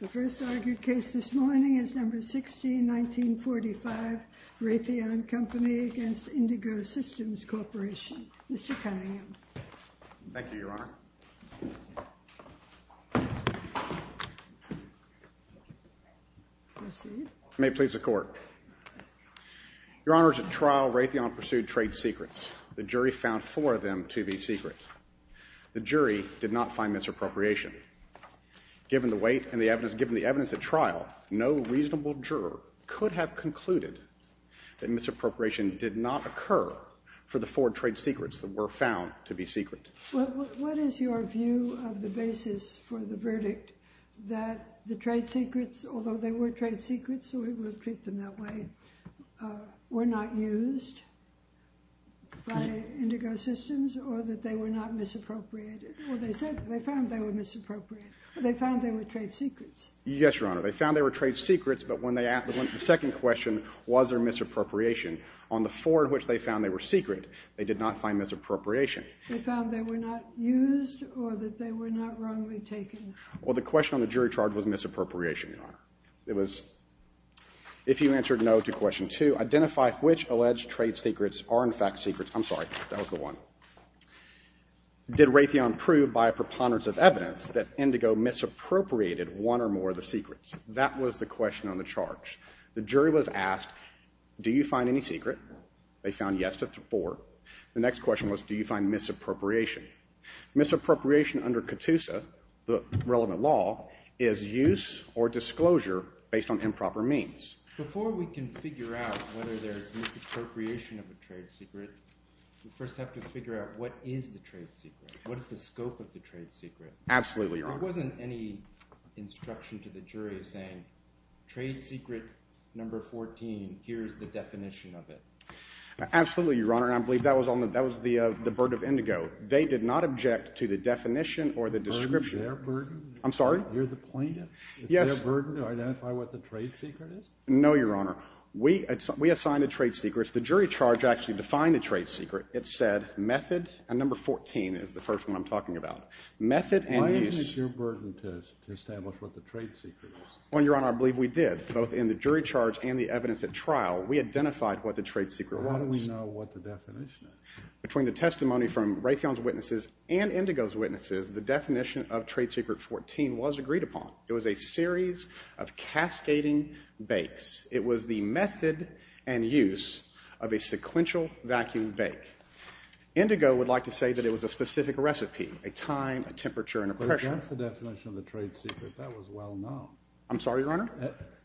The first argued case this morning is number 16, 1945, Ratheon Company v. Indigo Systems Corporation. Mr. Cunningham. Thank you, Your Honor. Proceed. May it please the Court. Your Honor, at trial, Ratheon pursued trade secrets. The jury found four of them to be secret. The jury did not find misappropriation. Given the weight and the evidence, given the evidence at trial, no reasonable juror could have concluded that misappropriation did not occur for the four trade secrets that were found to be secret. What is your view of the basis for the verdict that the trade secrets, although they were trade secrets, so we will treat them that way, were not used by Indigo Systems or that they were not misappropriated? Well, they said they found they were misappropriated. They found they were trade secrets. Yes, Your Honor. They found they were trade secrets, but when they asked the second question, was there misappropriation, on the four in which they found they were secret, they did not find misappropriation. They found they were not used or that they were not wrongly taken. Well, the question on the jury charge was misappropriation, Your Honor. It was, if you answered no to question two, identify which alleged trade secrets are in fact secrets. I'm sorry. That was the one. Did Ratheon prove by a preponderance of evidence that Indigo misappropriated one or more of the secrets? That was the question on the charge. The jury was asked, do you find any secret? They found yes to four. The next question was, do you find misappropriation? Misappropriation under CATUSA, the relevant law, is use or disclosure based on improper means. Before we can figure out whether there is misappropriation of a trade secret, we first have to figure out what is the trade secret. What is the scope of the trade secret? Absolutely, Your Honor. There wasn't any instruction to the jury saying, trade secret number 14, here's the definition of it. Absolutely, Your Honor. And I believe that was the burden of Indigo. They did not object to the definition or the description. Is there a burden? I'm sorry? You're the plaintiff? Yes. Is there a burden to identify what the trade secret is? No, Your Honor. We assigned the trade secrets. The jury charge actually defined the trade secret. It said method, and number 14 is the first one I'm talking about. Why isn't it your burden to establish what the trade secret is? Well, Your Honor, I believe we did. Both in the jury charge and the evidence at trial, we identified what the trade secret was. How do we know what the definition is? Between the testimony from Raytheon's witnesses and Indigo's witnesses, the definition of trade secret 14 was agreed upon. It was a series of cascading bakes. It was the method and use of a sequential vacuum bake. Indigo would like to say that it was a specific recipe, a time, a temperature, and a pressure. But if that's the definition of the trade secret, that was well known. I'm sorry, Your Honor?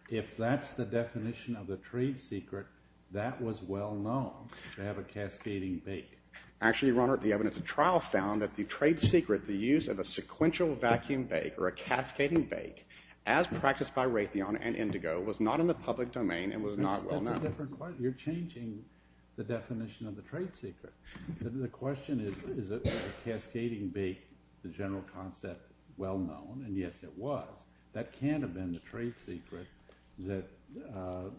If that's the definition of the trade secret, that was well known, to have a cascading bake. Actually, Your Honor, the evidence at trial found that the trade secret, the use of a sequential vacuum bake or a cascading bake, as practiced by Raytheon and Indigo, was not in the public domain and was not well known. You're changing the definition of the trade secret. The question is, is a cascading bake, the general concept, well known? And, yes, it was. That can't have been the trade secret that the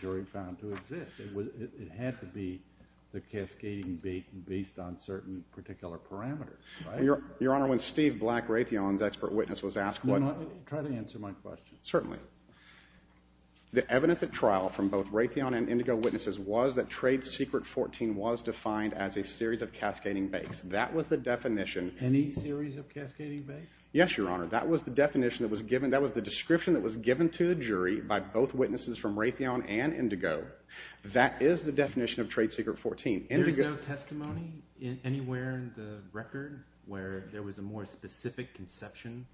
jury found to exist. It had to be the cascading bake based on certain particular parameters, right? Your Honor, when Steve Black, Raytheon's expert witness, was asked what— Try to answer my question. Certainly. The evidence at trial from both Raytheon and Indigo witnesses was that trade secret 14 was defined as a series of cascading bakes. That was the definition. Any series of cascading bakes? Yes, Your Honor. That was the definition that was given. That was the description that was given to the jury by both witnesses from Raytheon and Indigo. That is the definition of trade secret 14. There's no testimony anywhere in the record where there was a more specific conception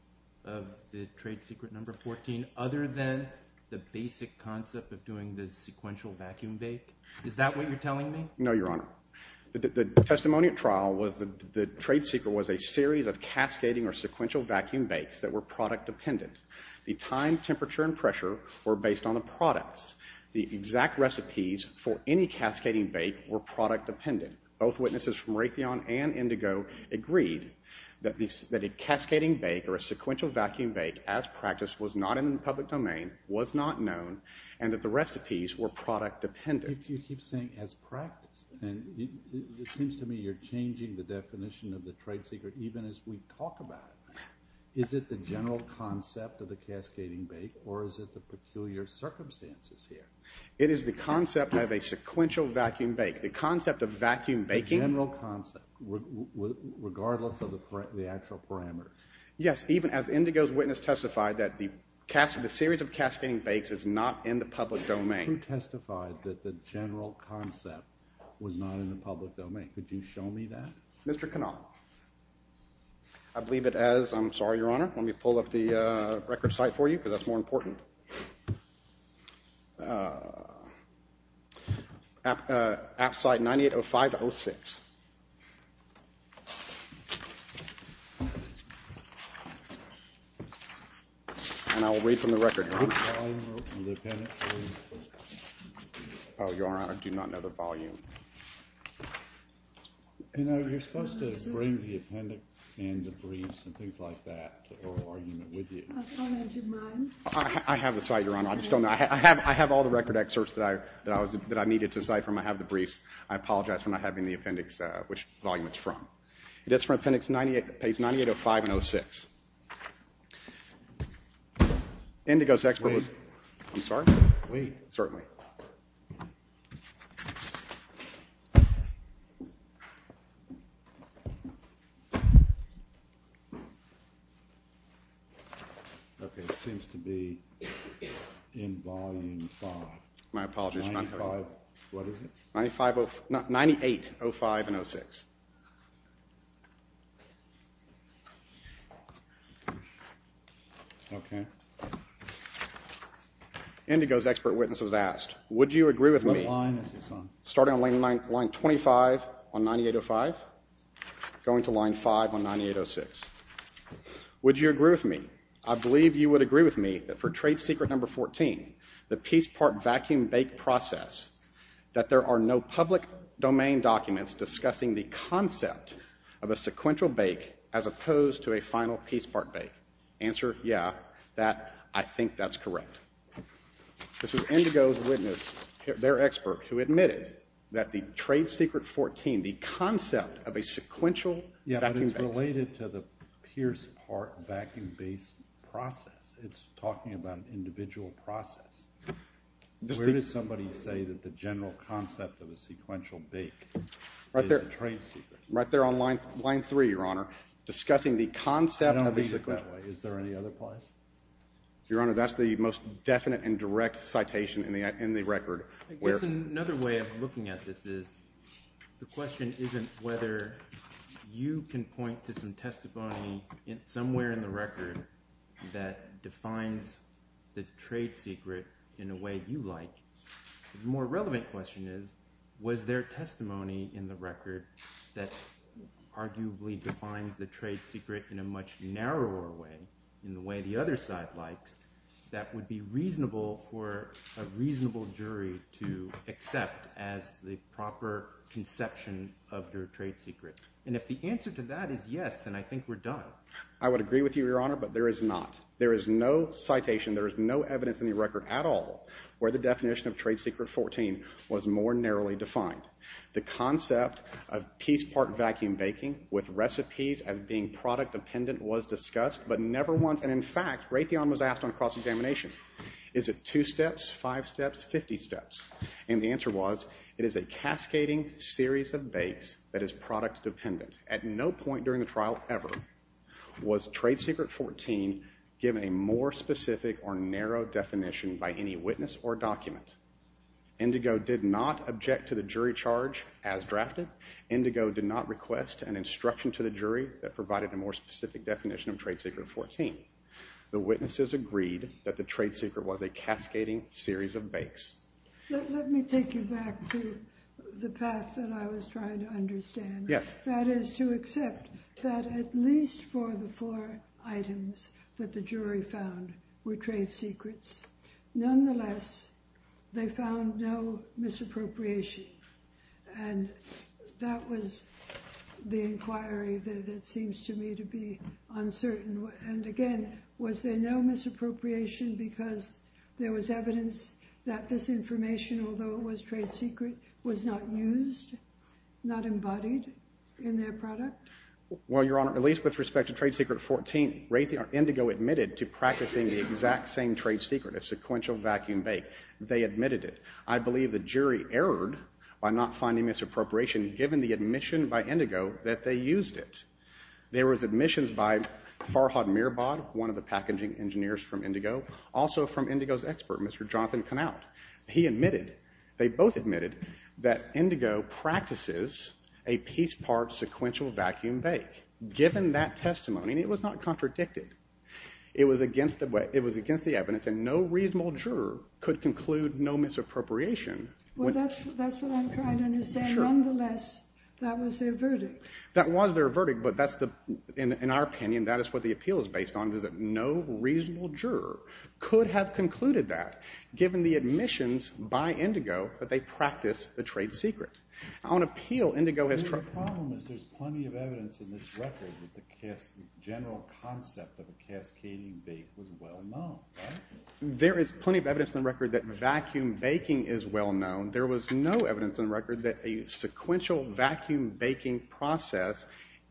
of the trade secret number 14 other than the basic concept of doing the sequential vacuum bake? Is that what you're telling me? No, Your Honor. The testimony at trial was the trade secret was a series of cascading or sequential vacuum bakes that were product dependent. The time, temperature, and pressure were based on the products. The exact recipes for any cascading bake were product dependent. Both witnesses from Raytheon and Indigo agreed that a cascading bake or a sequential vacuum bake as practiced was not in the public domain, was not known, and that the recipes were product dependent. You keep saying as practiced, and it seems to me you're changing the definition of the trade secret even as we talk about it. Is it the general concept of the cascading bake, or is it the peculiar circumstances here? It is the concept of a sequential vacuum bake. The concept of vacuum baking? The general concept, regardless of the actual parameters. Yes, even as Indigo's witness testified that the series of cascading bakes is not in the public domain. Who testified that the general concept was not in the public domain? Could you show me that? Mr. Cannell. I believe it as. I'm sorry, Your Honor. Let me pull up the record site for you because that's more important. App site 9805-06. And I will read from the record. Your Honor, I do not know the volume. You know, you're supposed to bring the appendix and the briefs and things like that, the oral argument with you. I have the site, Your Honor. I just don't know. I have all the record excerpts that I needed to decipher. I have the briefs. I apologize for not having the appendix, which volume it's from. It is from appendix 98, page 9805-06. Indigo's expert was. Wait. I'm sorry? Wait. Certainly. Okay. It seems to be in volume 5. My apologies, Your Honor. What is it? 98-05-06. Okay. Indigo's expert witness was asked, would you agree with me. What line is this on? Starting on line 25 on 9805, going to line 5 on 9806. Would you agree with me? I believe you would agree with me that for trade secret number 14, the piece part vacuum bake process, that there are no public domain documents discussing the concept of a sequential bake as opposed to a final piece part bake. Answer, yeah. I think that's correct. This was Indigo's witness, their expert, who admitted that the trade secret 14, the concept of a sequential vacuum bake. Yeah, but it's related to the piece part vacuum bake process. It's talking about an individual process. Where does somebody say that the general concept of a sequential bake is a trade secret? Right there on line 3, Your Honor, discussing the concept of a sequential. I don't read it that way. Is there any other place? Your Honor, that's the most definite and direct citation in the record. I guess another way of looking at this is the question isn't whether you can point to some testimony somewhere in the record that defines the trade secret in a way you like. The more relevant question is, was there testimony in the record that arguably defines the trade secret in a much narrower way, in the way the other side likes, that would be reasonable for a reasonable jury to accept as the proper conception of your trade secret? And if the answer to that is yes, then I think we're done. I would agree with you, Your Honor, but there is not. There is no citation. There is no evidence in the record at all where the definition of trade secret 14 was more narrowly defined. The concept of piece part vacuum baking with recipes as being product dependent was discussed, but never once, and in fact Raytheon was asked on cross-examination, is it two steps, five steps, 50 steps? And the answer was it is a cascading series of bakes that is product dependent. At no point during the trial ever was trade secret 14 given a more specific or narrow definition by any witness or document. Indigo did not object to the jury charge as drafted. Indigo did not request an instruction to the jury that provided a more specific definition of trade secret 14. The witnesses agreed that the trade secret was a cascading series of bakes. Let me take you back to the path that I was trying to understand. That is to accept that at least for the four items that the jury found were trade secrets. Nonetheless, they found no misappropriation, and that was the inquiry that seems to me to be uncertain. And again, was there no misappropriation because there was evidence that this information, although it was trade secret, was not used, not embodied in their product? Well, Your Honor, at least with respect to trade secret 14, Indigo admitted to practicing the exact same trade secret, a sequential vacuum bake. They admitted it. I believe the jury erred by not finding misappropriation given the admission by Indigo that they used it. There was admissions by Farhad Mirbad, one of the packaging engineers from Indigo, also from Indigo's expert, Mr. Jonathan Knaut. He admitted, they both admitted, that Indigo practices a piece-part sequential vacuum bake. Given that testimony, and it was not contradicted, it was against the evidence, and no reasonable juror could conclude no misappropriation. Well, that's what I'm trying to understand. Sure. Nonetheless, that was their verdict. That was their verdict, but that's the, in our opinion, that is what the appeal is based on, is that no reasonable juror could have concluded that. Given the admissions by Indigo that they practiced the trade secret. On appeal, Indigo has tried. The problem is there's plenty of evidence in this record that the general concept of a cascading bake was well-known. There is plenty of evidence in the record that vacuum baking is well-known. There was no evidence in the record that a sequential vacuum baking process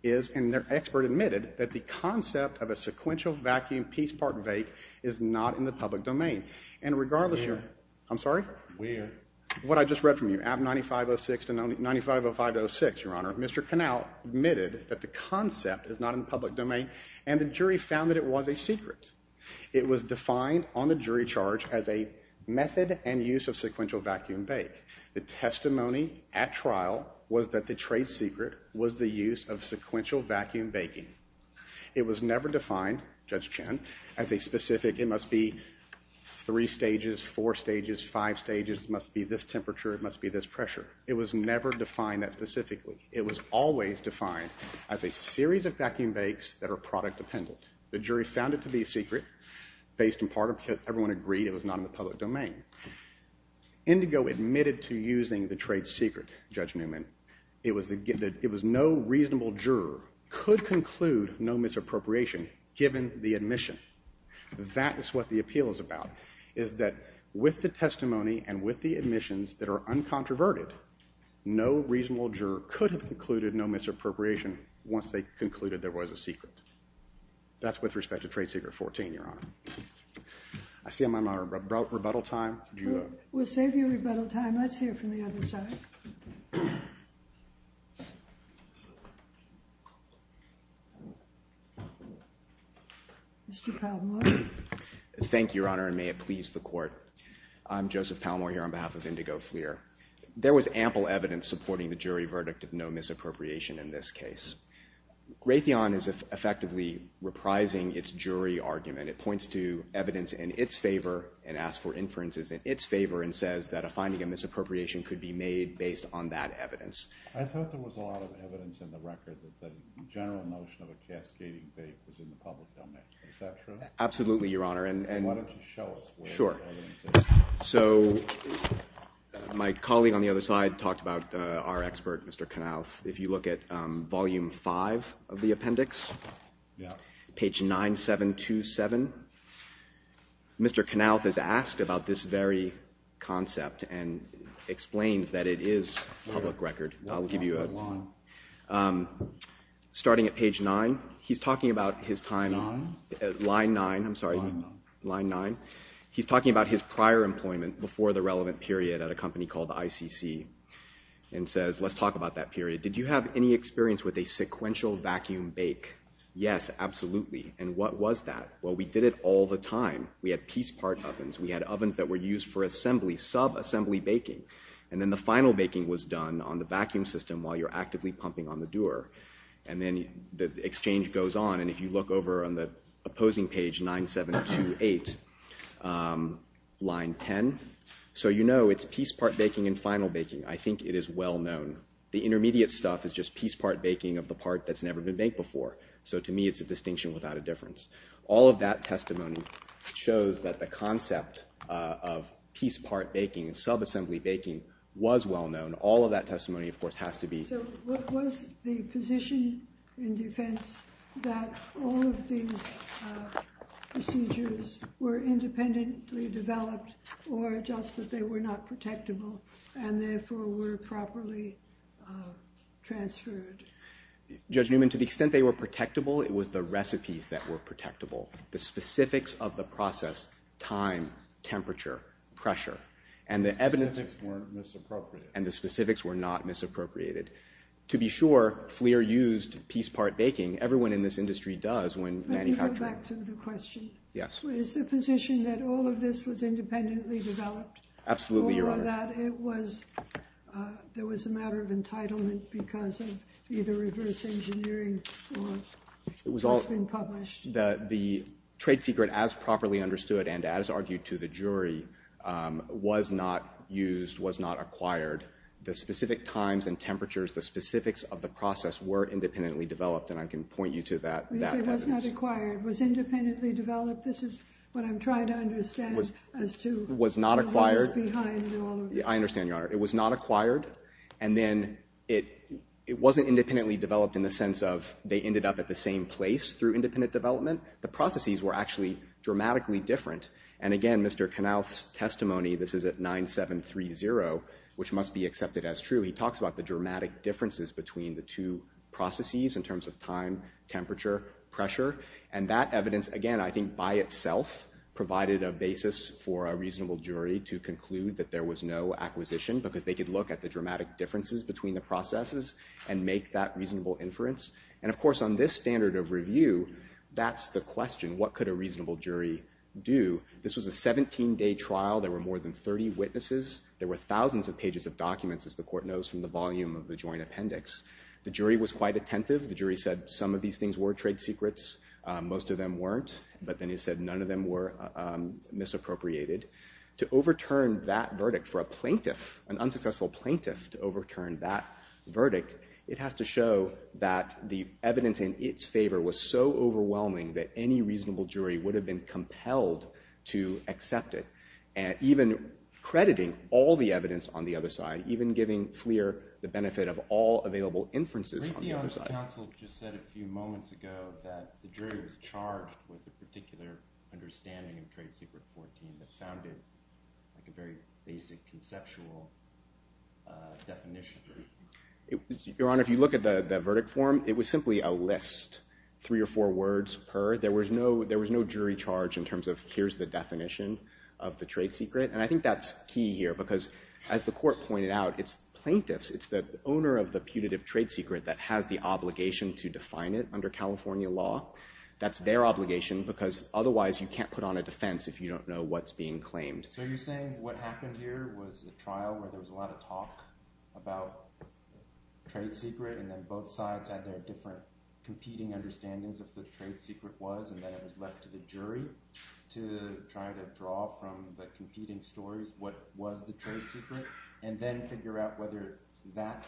is, and their expert admitted, that the concept of a sequential vacuum piece-part bake is not in the public domain. And regardless, Your Honor. Weird. I'm sorry? Weird. What I just read from you, AB 9506 to 9505-06, Your Honor, Mr. Connell admitted that the concept is not in the public domain, and the jury found that it was a secret. It was defined on the jury charge as a method and use of sequential vacuum bake. The testimony at trial was that the trade secret was the use of sequential vacuum baking. It was never defined, Judge Chen, as a specific, it must be three stages, four stages, five stages, it must be this temperature, it must be this pressure. It was never defined that specifically. It was always defined as a series of vacuum bakes that are product-dependent. The jury found it to be a secret based in part because everyone agreed it was not in the public domain. Indigo admitted to using the trade secret, Judge Newman. It was no reasonable juror could conclude no misappropriation given the admission. That is what the appeal is about, is that with the testimony and with the admissions that are uncontroverted, no reasonable juror could have concluded no misappropriation once they concluded there was a secret. That's with respect to trade secret 14, Your Honor. I see I'm on my rebuttal time. We'll save you rebuttal time. Let's hear from the other side. Mr. Palmore. Thank you, Your Honor, and may it please the Court. I'm Joseph Palmore here on behalf of Indigo Fleer. There was ample evidence supporting the jury verdict of no misappropriation in this case. Raytheon is effectively reprising its jury argument. It points to evidence in its favor and asks for inferences in its favor and says that a finding of misappropriation could be made based on that evidence. I thought there was a lot of evidence in the record that the general notion of a cascading fake was in the public domain. Is that true? Absolutely, Your Honor. Why don't you show us where the evidence is? Sure. So my colleague on the other side talked about our expert, Mr. Knauf. If you look at Volume 5 of the appendix, page 9727, Mr. Knauf is asked about this very concept and explains that it is public record. I'll give you a line. Starting at page 9, he's talking about his time. Line? Line 9. I'm sorry. Line 9. He's talking about his prior employment before the relevant period at a company called ICC and says, let's talk about that period. Did you have any experience with a sequential vacuum bake? Yes, absolutely. And what was that? Well, we did it all the time. We had piece part ovens. We had ovens that were used for assembly, sub-assembly baking. And then the final baking was done on the vacuum system while you're actively pumping on the doer. And then the exchange goes on. And if you look over on the opposing page, 9728, line 10, so you know it's piece part baking and final baking. I think it is well known. The intermediate stuff is just piece part baking of the part that's never been baked before. So to me it's a distinction without a difference. All of that testimony shows that the concept of piece part baking and sub-assembly baking was well known. All of that testimony, of course, has to be. So what was the position in defense that all of these procedures were independently developed or just that they were not protectable and therefore were properly transferred? Judge Newman, to the extent they were protectable, it was the recipes that were protectable, the specifics of the process, time, temperature, pressure, and the evidence. The specifics were misappropriated. And the specifics were not misappropriated. To be sure, FLIR used piece part baking. Everyone in this industry does when manufacturing. Let me go back to the question. Yes. Is the position that all of this was independently developed? Absolutely, Your Honor. Or that it was a matter of entitlement because of either reverse engineering or it's been published? The trade secret, as properly understood and as argued to the jury, was not used, was not acquired. The specific times and temperatures, the specifics of the process were independently developed. And I can point you to that evidence. You say it was not acquired. Was independently developed? This is what I'm trying to understand as to what was behind all of this. It was not acquired. I understand, Your Honor. It was not acquired. And then it wasn't independently developed in the sense of they ended up at the same place through independent development. The processes were actually dramatically different. And again, Mr. Knauth's testimony, this is at 9730, which must be accepted as true, he talks about the dramatic differences between the two processes in terms of time, temperature, pressure. And that evidence, again, I think by itself provided a basis for a reasonable jury to conclude that there was no acquisition because they could look at the dramatic differences between the processes and make that reasonable inference. And, of course, on this standard of review, that's the question. What could a reasonable jury do? This was a 17-day trial. There were more than 30 witnesses. There were thousands of pages of documents, as the court knows, from the volume of the joint appendix. The jury was quite attentive. The jury said some of these things were trade secrets. Most of them weren't. But then it said none of them were misappropriated. To overturn that verdict for a plaintiff, an unsuccessful plaintiff, to overturn that verdict, it has to show that the evidence in its favor was so overwhelming that any reasonable jury would have been compelled to accept it, even crediting all the evidence on the other side, even giving FLIR the benefit of all available inferences on the other side. Your counsel just said a few moments ago that the jury was charged with a particular understanding of Trade Secret 14 that sounded like a very basic conceptual definition. Your Honor, if you look at the verdict form, it was simply a list, three or four words per. There was no jury charge in terms of here's the definition of the trade secret. And I think that's key here because, as the court pointed out, it's plaintiffs. It's the owner of the punitive trade secret that has the obligation to define it under California law. That's their obligation because otherwise you can't put on a defense if you don't know what's being claimed. So you're saying what happened here was a trial where there was a lot of talk about trade secret and then both sides had their different competing understandings of what the trade secret was, and then it was left to the jury to try to draw from the competing stories what was the trade secret and then figure out whether that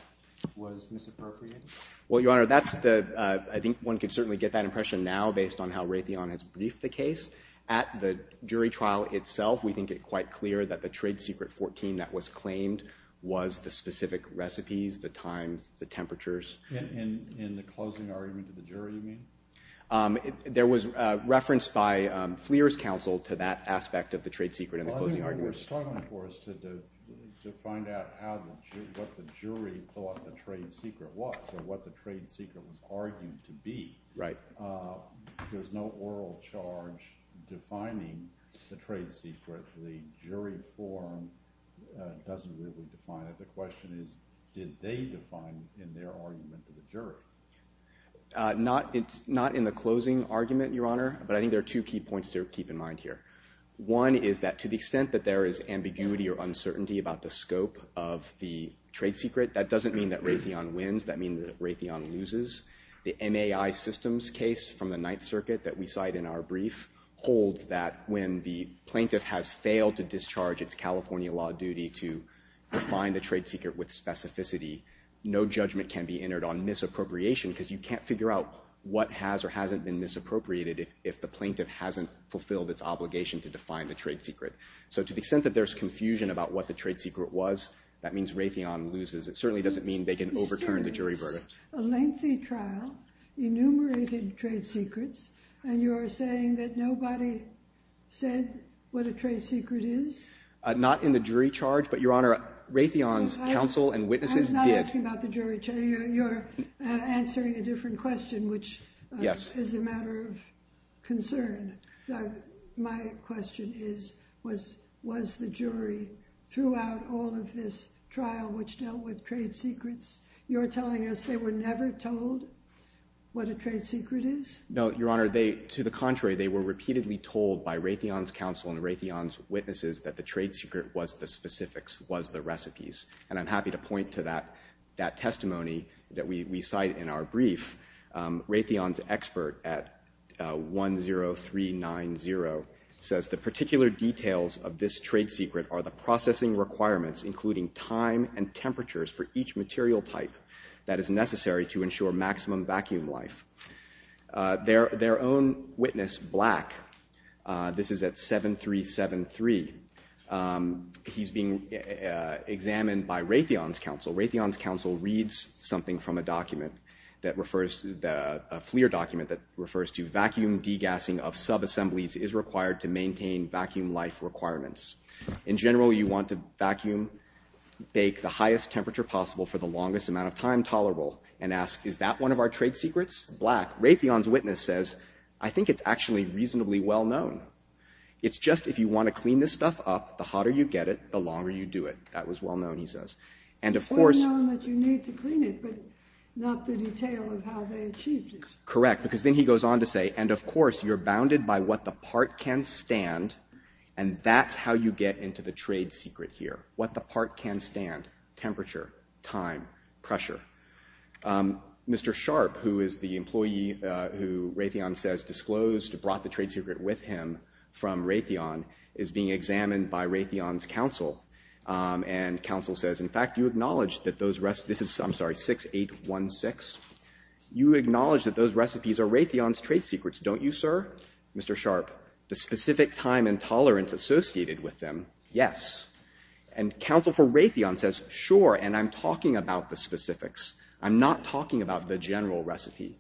was misappropriated? Well, Your Honor, I think one could certainly get that impression now based on how Raytheon has briefed the case. At the jury trial itself, we think it quite clear that the Trade Secret 14 that was claimed was the specific recipes, the times, the temperatures. In the closing argument of the jury, you mean? There was reference by Fleer's counsel to that aspect of the trade secret in the closing argument. What we're struggling for is to find out what the jury thought the trade secret was or what the trade secret was argued to be. There's no oral charge defining the trade secret. The jury form doesn't really define it. The question is did they define it in their argument to the jury? Not in the closing argument, Your Honor, but I think there are two key points to keep in mind here. One is that to the extent that there is ambiguity or uncertainty about the scope of the trade secret, that doesn't mean that Raytheon wins. That means that Raytheon loses. The NAI systems case from the Ninth Circuit that we cite in our brief holds that when the plaintiff has failed to discharge its California law duty to define the trade secret with specificity, no judgment can be entered on misappropriation because you can't figure out what has or hasn't been misappropriated if the plaintiff hasn't fulfilled its obligation to define the trade secret. So to the extent that there's confusion about what the trade secret was, that means Raytheon loses. It certainly doesn't mean they can overturn the jury verdict. A lengthy trial, enumerated trade secrets, and you are saying that nobody said what a trade secret is? Not in the jury charge, but, Your Honor, Raytheon's counsel and witnesses did. I'm not asking about the jury charge. You're answering a different question, which is a matter of concern. My question is, was the jury throughout all of this trial which dealt with trade secrets, you're telling us they were never told what a trade secret is? No, Your Honor. To the contrary, they were repeatedly told by Raytheon's counsel and Raytheon's witnesses and I'm happy to point to that testimony that we cite in our brief. Raytheon's expert at 10390 says, the particular details of this trade secret are the processing requirements, including time and temperatures for each material type that is necessary to ensure maximum vacuum life. Their own witness, Black, this is at 7373, he's being examined by Raytheon's counsel. Raytheon's counsel reads something from a document that refers to, a FLIR document that refers to vacuum degassing of subassemblies is required to maintain vacuum life requirements. In general, you want to vacuum, bake the highest temperature possible for the longest amount of time tolerable and ask, is that one of our trade secrets? Black, Raytheon's witness says, I think it's actually reasonably well known. It's just if you want to clean this stuff up, the hotter you get it, the longer you do it. That was well known, he says. And of course... It's well known that you need to clean it, but not the detail of how they achieved it. Correct, because then he goes on to say, and of course, you're bounded by what the part can stand and that's how you get into the trade secret here. What the part can stand, temperature, time, pressure. Mr. Sharp, who is the employee who Raytheon says disclosed, who brought the trade secret with him from Raytheon, is being examined by Raytheon's counsel. And counsel says, in fact, you acknowledge that those recipes... I'm sorry, 6816? You acknowledge that those recipes are Raytheon's trade secrets, don't you, sir? Mr. Sharp, the specific time and tolerance associated with them, yes. And counsel for Raytheon says, sure, and I'm talking about the specifics. I'm not talking about the general recipe.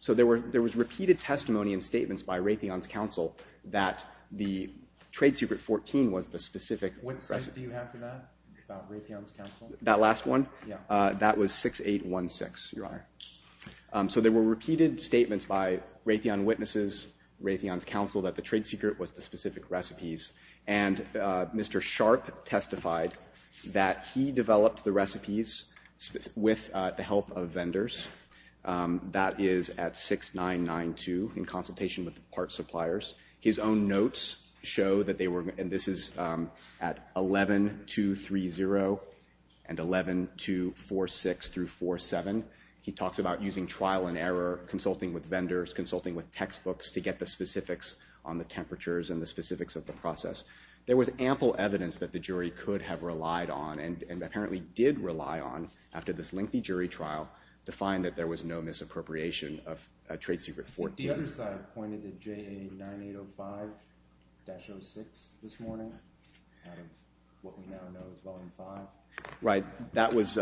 So there was repeated testimony and statements by Raytheon's counsel that the trade secret 14 was the specific recipe. What cite do you have for that, about Raytheon's counsel? That last one? Yeah. That was 6816, Your Honor. So there were repeated statements by Raytheon witnesses, Raytheon's counsel, that the trade secret was the specific recipes. And Mr. Sharp testified that he developed the recipes with the help of vendors. That is at 6992, in consultation with the parts suppliers. His own notes show that they were... And this is at 11230 and 11246-47. He talks about using trial and error, consulting with vendors, consulting with textbooks to get the specifics on the temperatures and the specifics of the process. There was ample evidence that the jury could have relied on and apparently did rely on after this lengthy jury trial to find that there was no misappropriation of a trade secret 14. The other side pointed to JA9805-06 this morning, out of what we now know as Volume 5. Right. That was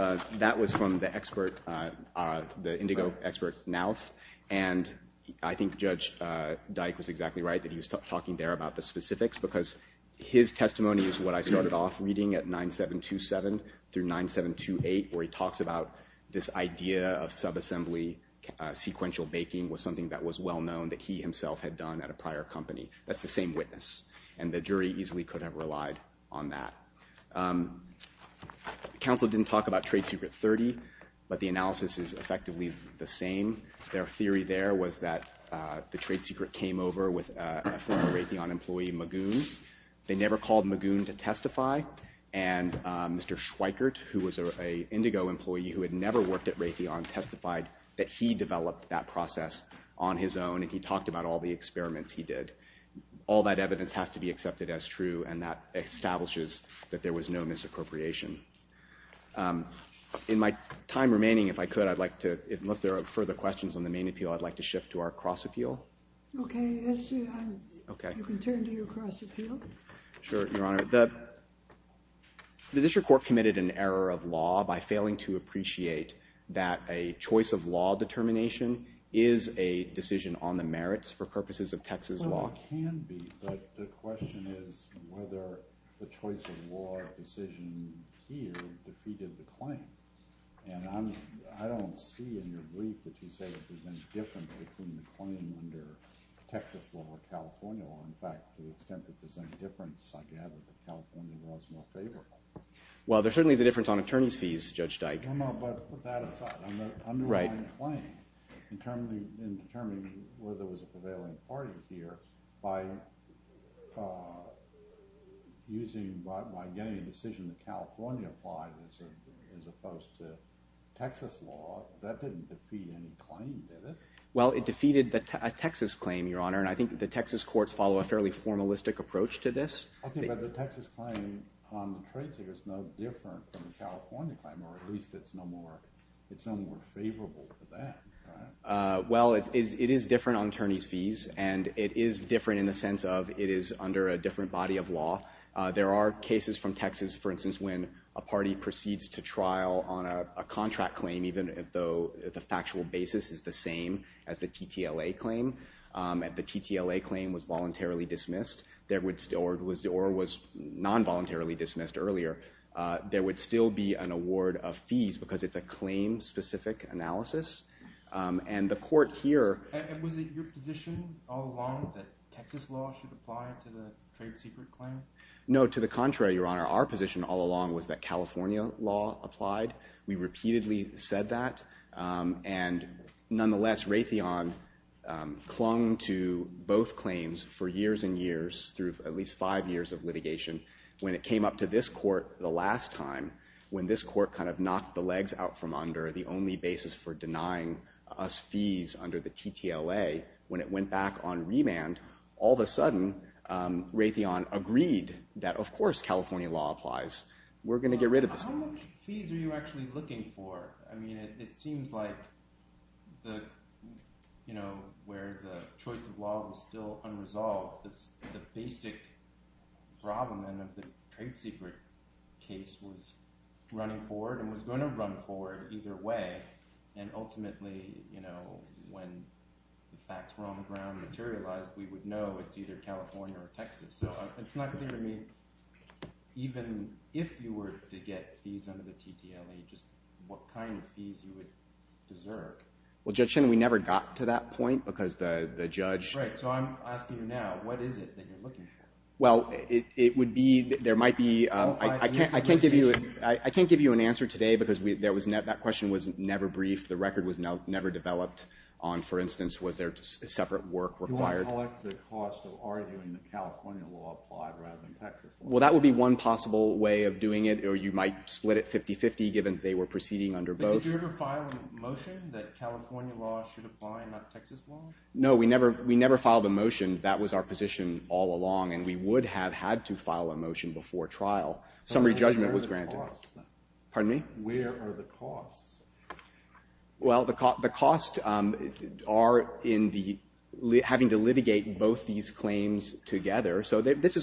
from the expert, the indigo expert, Nowth. And I think Judge Dyke was exactly right that he was talking there about the specifics because his testimony is what I started off reading at 9727 through 9728 where he talks about this idea of subassembly sequential baking was something that was well known that he himself had done at a prior company. That's the same witness. And the jury easily could have relied on that. Counsel didn't talk about Trade Secret 30, but the analysis is effectively the same. Their theory there was that the trade secret came over with a former Raytheon employee, Magoon. They never called Magoon to testify. And Mr. Schweikert, who was an indigo employee who had never worked at Raytheon, testified that he developed that process on his own, and he talked about all the experiments he did. All that evidence has to be accepted as true, and that establishes that there was no misappropriation. In my time remaining, if I could, I'd like to, unless there are further questions on the main appeal, I'd like to shift to our cross appeal. Okay. You can turn to your cross appeal. Sure, Your Honor. The district court committed an error of law by failing to appreciate that a choice of law determination is a decision on the merits for purposes of Texas law. Well, it can be, but the question is whether the choice of law decision here defeated the claim. And I don't see in your brief that you say there's any difference between the claim under Texas law or California law. In fact, to the extent that there's any difference, I gather that California law is more favorable. Well, there certainly is a difference on attorney's fees, Judge Dyke. No, no, but put that aside. On the underlying claim, in determining whether there was a prevailing party here, by getting a decision that California applied as opposed to Texas law, that didn't defeat any claim, did it? Well, it defeated a Texas claim, Your Honor, and I think the Texas courts follow a fairly formalistic approach to this. Okay, but the Texas claim on the trade suit is no different from the California claim, or at least it's no more favorable for that, right? Well, it is different on attorney's fees, and it is different in the sense of it is under a different body of law. There are cases from Texas, for instance, when a party proceeds to trial on a contract claim, even though the factual basis is the same as the TTLA claim. If the TTLA claim was voluntarily dismissed, or was non-voluntarily dismissed earlier, there would still be an award of fees because it's a claim-specific analysis. And the court here... And was it your position all along that Texas law should apply to the trade secret claim? No, to the contrary, Your Honor. Our position all along was that California law applied. We repeatedly said that, and nonetheless, Raytheon clung to both claims for years and years through at least five years of litigation. When it came up to this court the last time, when this court kind of knocked the legs out from under the only basis for denying us fees under the TTLA, when it went back on remand, all of a sudden Raytheon agreed that, of course, California law applies. We're going to get rid of this guy. How much fees are you actually looking for? I mean, it seems like where the choice of law was still unresolved, the basic problem then of the trade secret case was running forward and was going to run forward either way, and ultimately when the facts were on the ground and materialized, we would know it's either California or Texas. So it's not clear to me even if you were to get fees under the TTLA, just what kind of fees you would deserve. Well, Judge Shinnen, we never got to that point because the judge— Right. So I'm asking you now, what is it that you're looking for? Well, it would be—there might be—I can't give you an answer today because that question was never briefed. The record was never developed on, for instance, was there separate work required. You want to collect the cost of arguing that California law applied rather than Texas law. Well, that would be one possible way of doing it, or you might split it 50-50 given they were proceeding under both. But did you ever file a motion that California law should apply and not Texas law? No, we never filed a motion. That was our position all along, and we would have had to file a motion before trial. Summary judgment was granted. Where are the costs, then? Pardon me? Where are the costs? Well, the costs are in having to litigate both these claims together. So these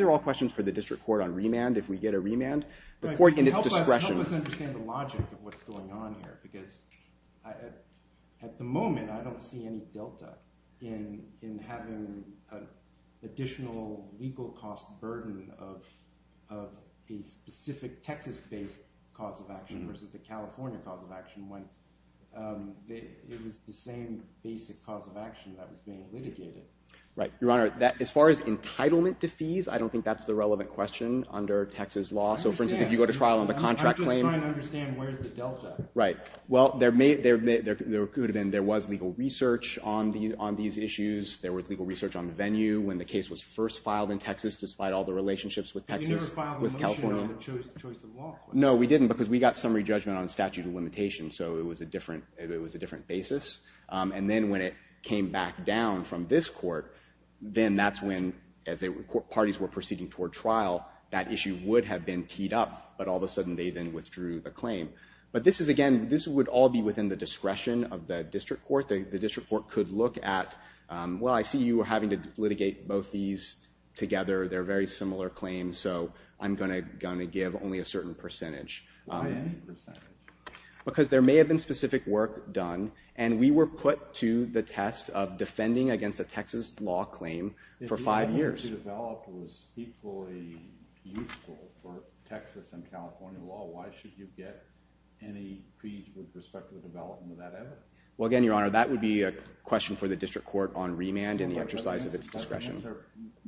are all questions for the district court on remand, if we get a remand, the court and its discretion. Help us understand the logic of what's going on here because at the moment I don't see any delta in having an additional legal cost burden of a specific Texas-based cause of action versus the California cause of action when it was the same basic cause of action that was being litigated. Right. Your Honor, as far as entitlement to fees, I don't think that's the relevant question under Texas law. I understand. So, for instance, if you go to trial on the contract claim. I'm just trying to understand where's the delta. Right. Well, there could have been. There was legal research on these issues. There was legal research on venue when the case was first filed in Texas despite all the relationships with Texas, with California. But you never filed a motion on the choice of law. No, we didn't because we got summary judgment on statute of limitations, so it was a different basis. And then when it came back down from this court, then that's when, as parties were proceeding toward trial, that issue would have been teed up, but all of a sudden they then withdrew the claim. But this is, again, this would all be within the discretion of the district court. The district court could look at, well, I see you having to litigate both these together. They're very similar claims, so I'm going to give only a certain percentage. Why any percentage? Because there may have been specific work done, and we were put to the test of defending against a Texas law claim for five years. If the evidence you developed was equally useful for Texas and California law, why should you get any fees with respect to the development of that evidence? Well, again, Your Honor, that would be a question for the district court on remand and the exercise of its discretion.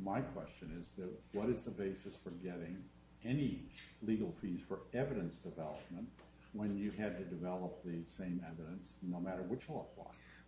My question is, what is the basis for getting any legal fees for evidence development when you had to develop the same evidence no matter which law?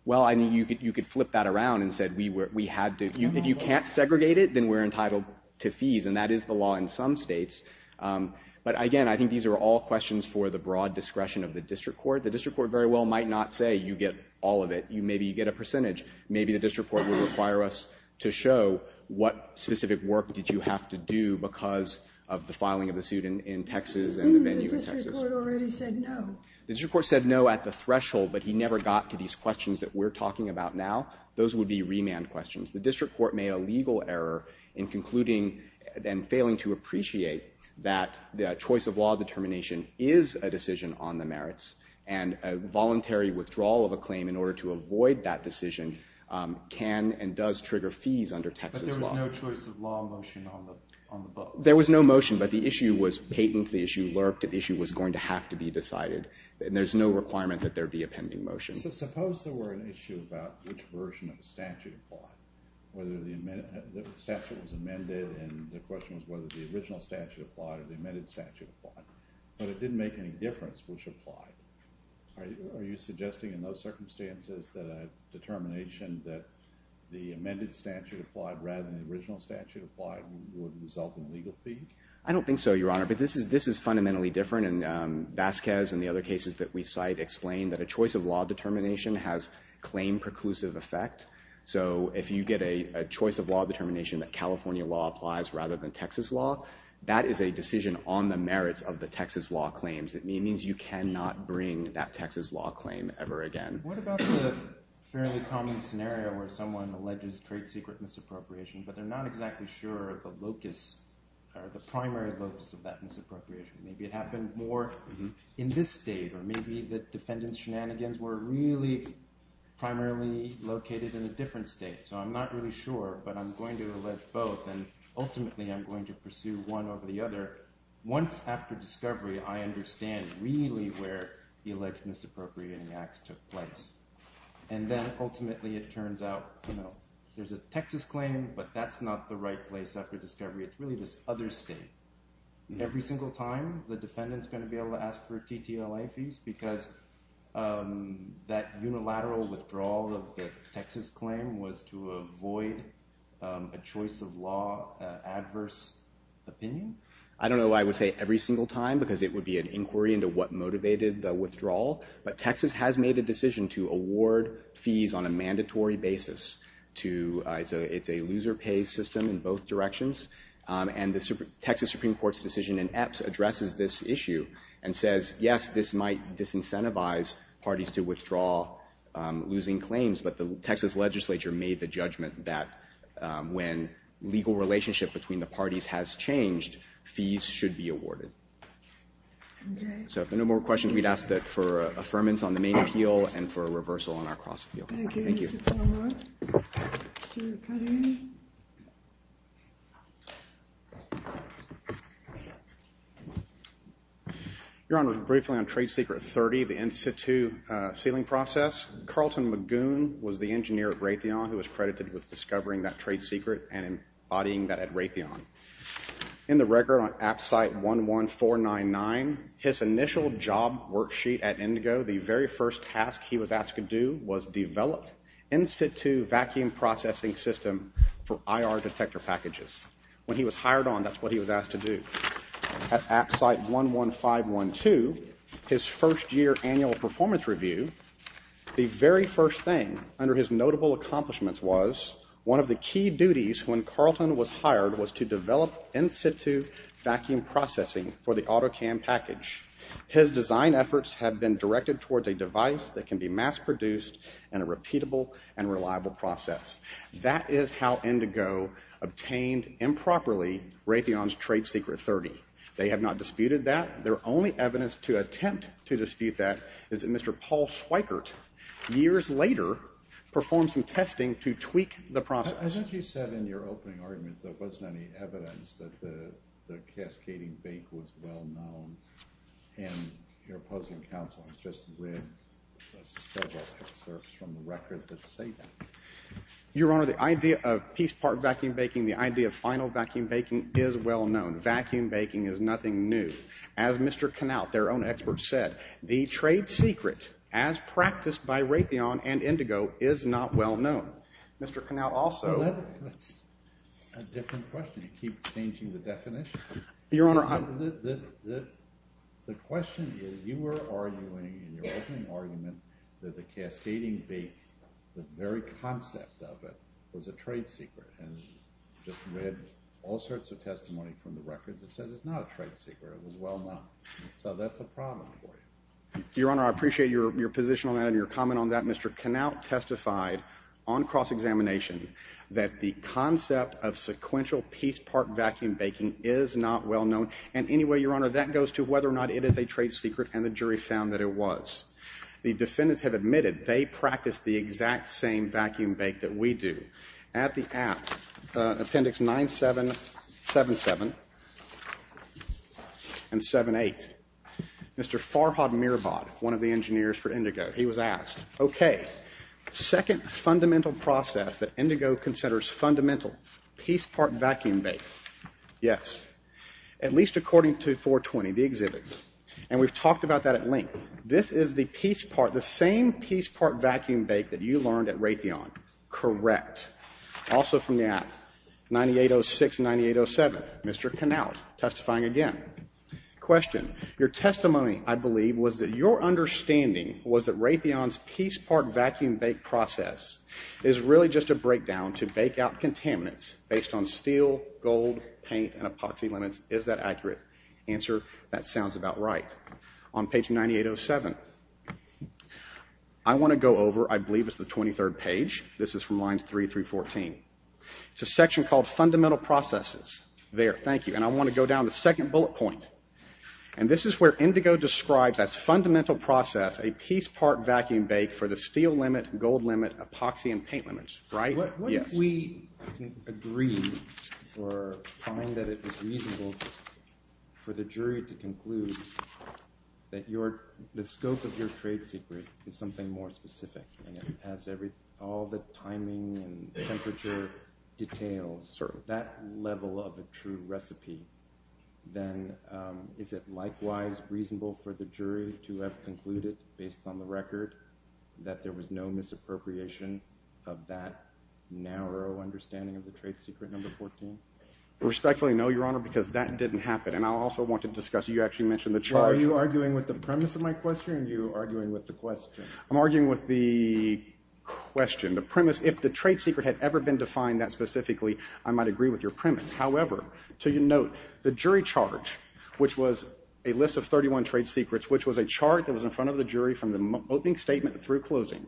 Well, I mean, you could flip that around and say we had to. If you can't segregate it, then we're entitled to fees, and that is the law in some states. But, again, I think these are all questions for the broad discretion of the district court. The district court very well might not say you get all of it. Maybe you get a percentage. Maybe the district court would require us to show what specific work did you have to do because of the filing of the suit in Texas and the venue in Texas. The district court already said no. The district court said no at the threshold, but he never got to these questions that we're talking about now. Those would be remand questions. The district court made a legal error in concluding and failing to appreciate that the choice of law determination is a decision on the merits, and a voluntary withdrawal of a claim in order to avoid that decision can and does trigger fees under Texas law. But there was no choice of law motion on the books. There was no motion, but the issue was patent. The issue lurked. The issue was going to have to be decided, and there's no requirement that there be a pending motion. So suppose there were an issue about which version of the statute applied, whether the statute was amended, and the question was whether the original statute applied or the amended statute applied, but it didn't make any difference which applied. Are you suggesting in those circumstances that a determination that the amended statute applied rather than the original statute applied would result in legal fees? I don't think so, Your Honor. But this is fundamentally different, and Vasquez and the other cases that we cite explain that a choice of law determination has claim-preclusive effect. So if you get a choice of law determination that California law applies rather than Texas law, that is a decision on the merits of the Texas law claims. It means you cannot bring that Texas law claim ever again. What about the fairly common scenario where someone alleges trade secret misappropriation, but they're not exactly sure of the locus, or the primary locus of that misappropriation? Maybe it happened more in this state, or maybe the defendant's shenanigans were really primarily located in a different state. So I'm not really sure, but I'm going to allege both, and ultimately I'm going to pursue one over the other. Once after discovery, I understand really where the alleged misappropriating acts took place. And then ultimately it turns out there's a Texas claim, but that's not the right place after discovery. It's really this other state. Every single time the defendant's going to be able to ask for TTLA fees because that unilateral withdrawal of the Texas claim was to avoid a choice of law adverse opinion? I don't know why I would say every single time, because it would be an inquiry into what motivated the withdrawal. But Texas has made a decision to award fees on a mandatory basis. It's a loser pay system in both directions. And the Texas Supreme Court's decision in EPS addresses this issue and says, yes, this might disincentivize parties to withdraw losing claims, but the Texas legislature made the judgment that when legal relationship between the parties has changed, fees should be awarded. So if no more questions, we'd ask that for affirmance on the main appeal and for a reversal on our cross-appeal. Thank you. Your Honor, briefly on Trade Secret 30, the institute sealing process, Carlton Magoon was the engineer at Raytheon who was credited with discovering that trade secret and embodying that at Raytheon. In the record on AppSite 11499, his initial job worksheet at Indigo, the very first task he was asked to do was develop institute vacuum processing system for IR detector packages. When he was hired on, that's what he was asked to do. At AppSite 11512, his first year annual performance review, the very first thing under his notable accomplishments was one of the key duties when Carlton was hired was to develop institute vacuum processing for the auto cam package. His design efforts have been directed towards a device that can be mass produced and a repeatable and reliable process. That is how Indigo obtained improperly Raytheon's Trade Secret 30. They have not disputed that. Their only evidence to attempt to dispute that is that Mr. Paul Schweikert years later performed some testing to tweak the process. I thought you said in your opening argument there wasn't any evidence that the cascading bake was well known and your opposing counsel has just read several excerpts from the record that say that. Your Honor, the idea of piece part vacuum baking, the idea of final vacuum baking, is well known. Vacuum baking is nothing new. As Mr. Knaut, their own expert, said, the trade secret as practiced by Raytheon and Indigo is not well known. Mr. Knaut also. That's a different question. You keep changing the definition. Your Honor, the question is you were arguing in your opening argument that the cascading bake, the very concept of it, was a trade secret and just read all sorts of testimony from the record that says it's not a trade secret. It was well known. So that's a problem for you. Your Honor, I appreciate your position on that and your comment on that. Mr. Knaut testified on cross-examination that the concept of sequential piece part vacuum baking is not well known. And anyway, Your Honor, that goes to whether or not it is a trade secret and the jury found that it was. The defendants have admitted they practiced the exact same vacuum bake that we do. At the app, appendix 9777 and 78, Mr. Farhad Mirabad, one of the engineers for Indigo, he was asked, okay, second fundamental process that Indigo considers fundamental, piece part vacuum bake. Yes. At least according to 420, the exhibit. And we've talked about that at length. This is the piece part, the same piece part vacuum bake that you learned at Raytheon. Correct. Also from the app, 9806 and 9807, Mr. Knaut testifying again. Question. Your testimony, I believe, was that your understanding was that Raytheon's piece part vacuum bake process is really just a breakdown to bake out contaminants based on steel, gold, paint, and epoxy limits. Is that accurate? Answer, that sounds about right. On page 9807. I want to go over, I believe it's the 23rd page. This is from lines 3 through 14. It's a section called fundamental processes. There, thank you. And I want to go down to the second bullet point. And this is where Indigo describes as fundamental process a piece part vacuum bake for the steel limit, gold limit, epoxy, and paint limits. Right? What if we agree or find that it was reasonable for the jury to conclude that the scope of your trade secret is something more specific and it has all the timing and temperature details, that level of a true recipe, then is it likewise reasonable for the jury to have concluded, based on the record, that there was no misappropriation of that narrow understanding of the trade secret number 14? Respectfully, no, Your Honor, because that didn't happen. And I also want to discuss, you actually mentioned the charge. Are you arguing with the premise of my question or are you arguing with the question? I'm arguing with the question, the premise. If the trade secret had ever been defined that specifically, I might agree with your premise. However, to your note, the jury charge, which was a list of 31 trade secrets, which was a chart that was in front of the jury from the opening statement through closing,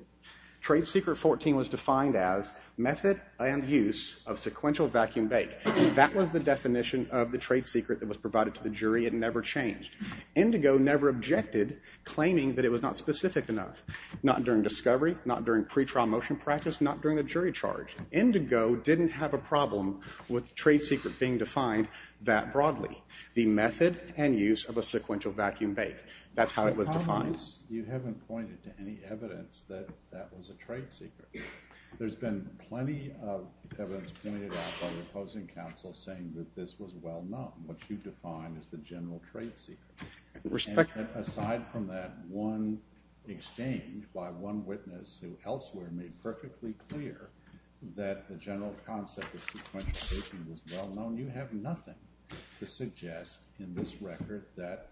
trade secret 14 was defined as method and use of sequential vacuum bake. That was the definition of the trade secret that was provided to the jury. It never changed. Indigo never objected, claiming that it was not specific enough, not during discovery, not during pretrial motion practice, not during the jury charge. Indigo didn't have a problem with trade secret being defined that broadly, the method and use of a sequential vacuum bake. That's how it was defined. You haven't pointed to any evidence that that was a trade secret. There's been plenty of evidence pointed out by the opposing counsel saying that this was well known, what you define as the general trade secret. Aside from that one exchange by one witness who elsewhere made perfectly clear that the general concept of sequential baking was well known, you have nothing to suggest in this record that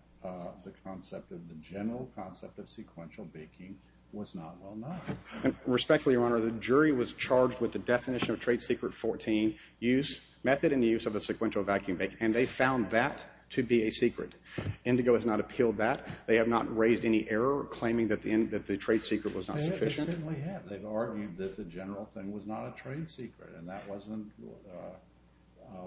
the concept of the general concept of sequential baking was not well known. Respectfully, Your Honor, the jury was charged with the definition of trade secret 14, method and use of a sequential vacuum bake, and they found that to be a secret. Indigo has not appealed that. They have not raised any error claiming that the trade secret was not sufficient. They certainly have. They've argued that the general thing was not a trade secret and that wasn't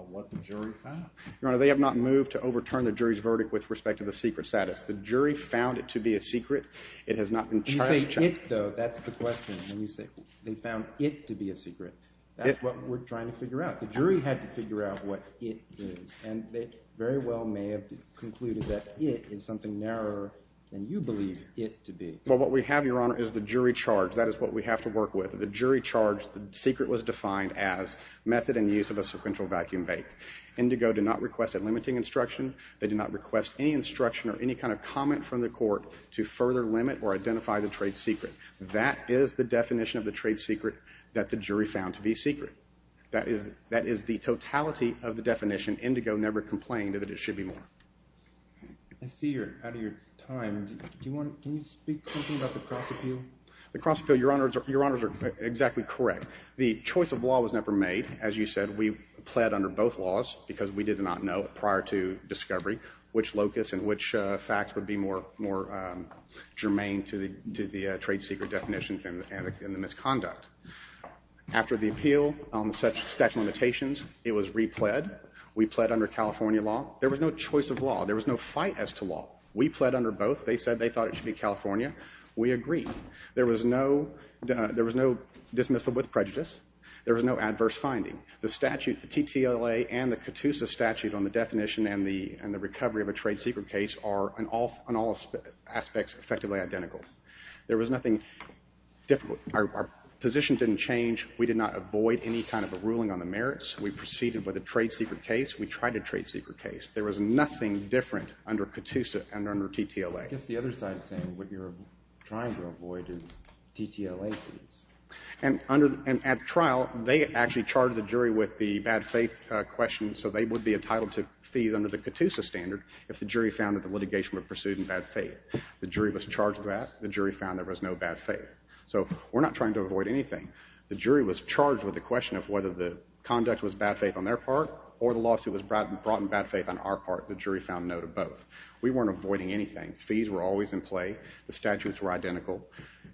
what the jury found. Your Honor, they have not moved to overturn the jury's verdict with respect to the secret status. The jury found it to be a secret. It has not been charged. When you say it, though, that's the question. When you say they found it to be a secret, that's what we're trying to figure out. The jury had to figure out what it is, and they very well may have concluded that it is something narrower than you believe it to be. Well, what we have, Your Honor, is the jury charge. That is what we have to work with. The jury charge, the secret was defined as method and use of a sequential vacuum bake. Indigo did not request a limiting instruction. They did not request any instruction or any kind of comment from the court to further limit or identify the trade secret. That is the definition of the trade secret that the jury found to be secret. That is the totality of the definition. Indigo never complained that it should be more. I see you're out of your time. Can you speak to me about the cross appeal? The cross appeal, Your Honors, are exactly correct. The choice of law was never made. As you said, we pled under both laws because we did not know prior to discovery which locus and which facts would be more germane to the trade secret definitions and the misconduct. After the appeal on the statute of limitations, it was repled. We pled under California law. There was no choice of law. There was no fight as to law. We pled under both. They said they thought it should be California. We agreed. There was no dismissal with prejudice. There was no adverse finding. The statute, the TTLA and the CATUSA statute on the definition and the recovery of a trade secret case are, in all aspects, effectively identical. There was nothing difficult. Our position didn't change. We did not avoid any kind of a ruling on the merits. We proceeded with a trade secret case. We tried a trade secret case. There was nothing different under CATUSA and under TTLA. I guess the other side is saying what you're trying to avoid is TTLA fees. And at trial, they actually charged the jury with the bad faith question, so they would be entitled to fees under the CATUSA standard if the jury found that the litigation was pursued in bad faith. The jury was charged with that. The jury found there was no bad faith. So we're not trying to avoid anything. The jury was charged with the question of whether the conduct was bad faith on their part or the lawsuit was brought in bad faith on our part. The jury found no to both. We weren't avoiding anything. Fees were always in play. The statutes were identical.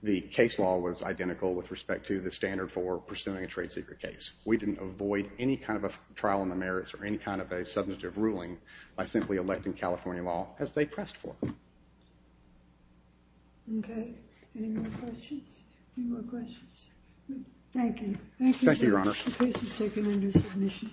The case law was identical with respect to the standard for pursuing a trade secret case. We didn't avoid any kind of a trial on the merits or any kind of a substantive ruling by simply electing California law as they pressed for. Okay. Any more questions? Any more questions? Thank you. Thank you, Your Honor. The case is taken under submission.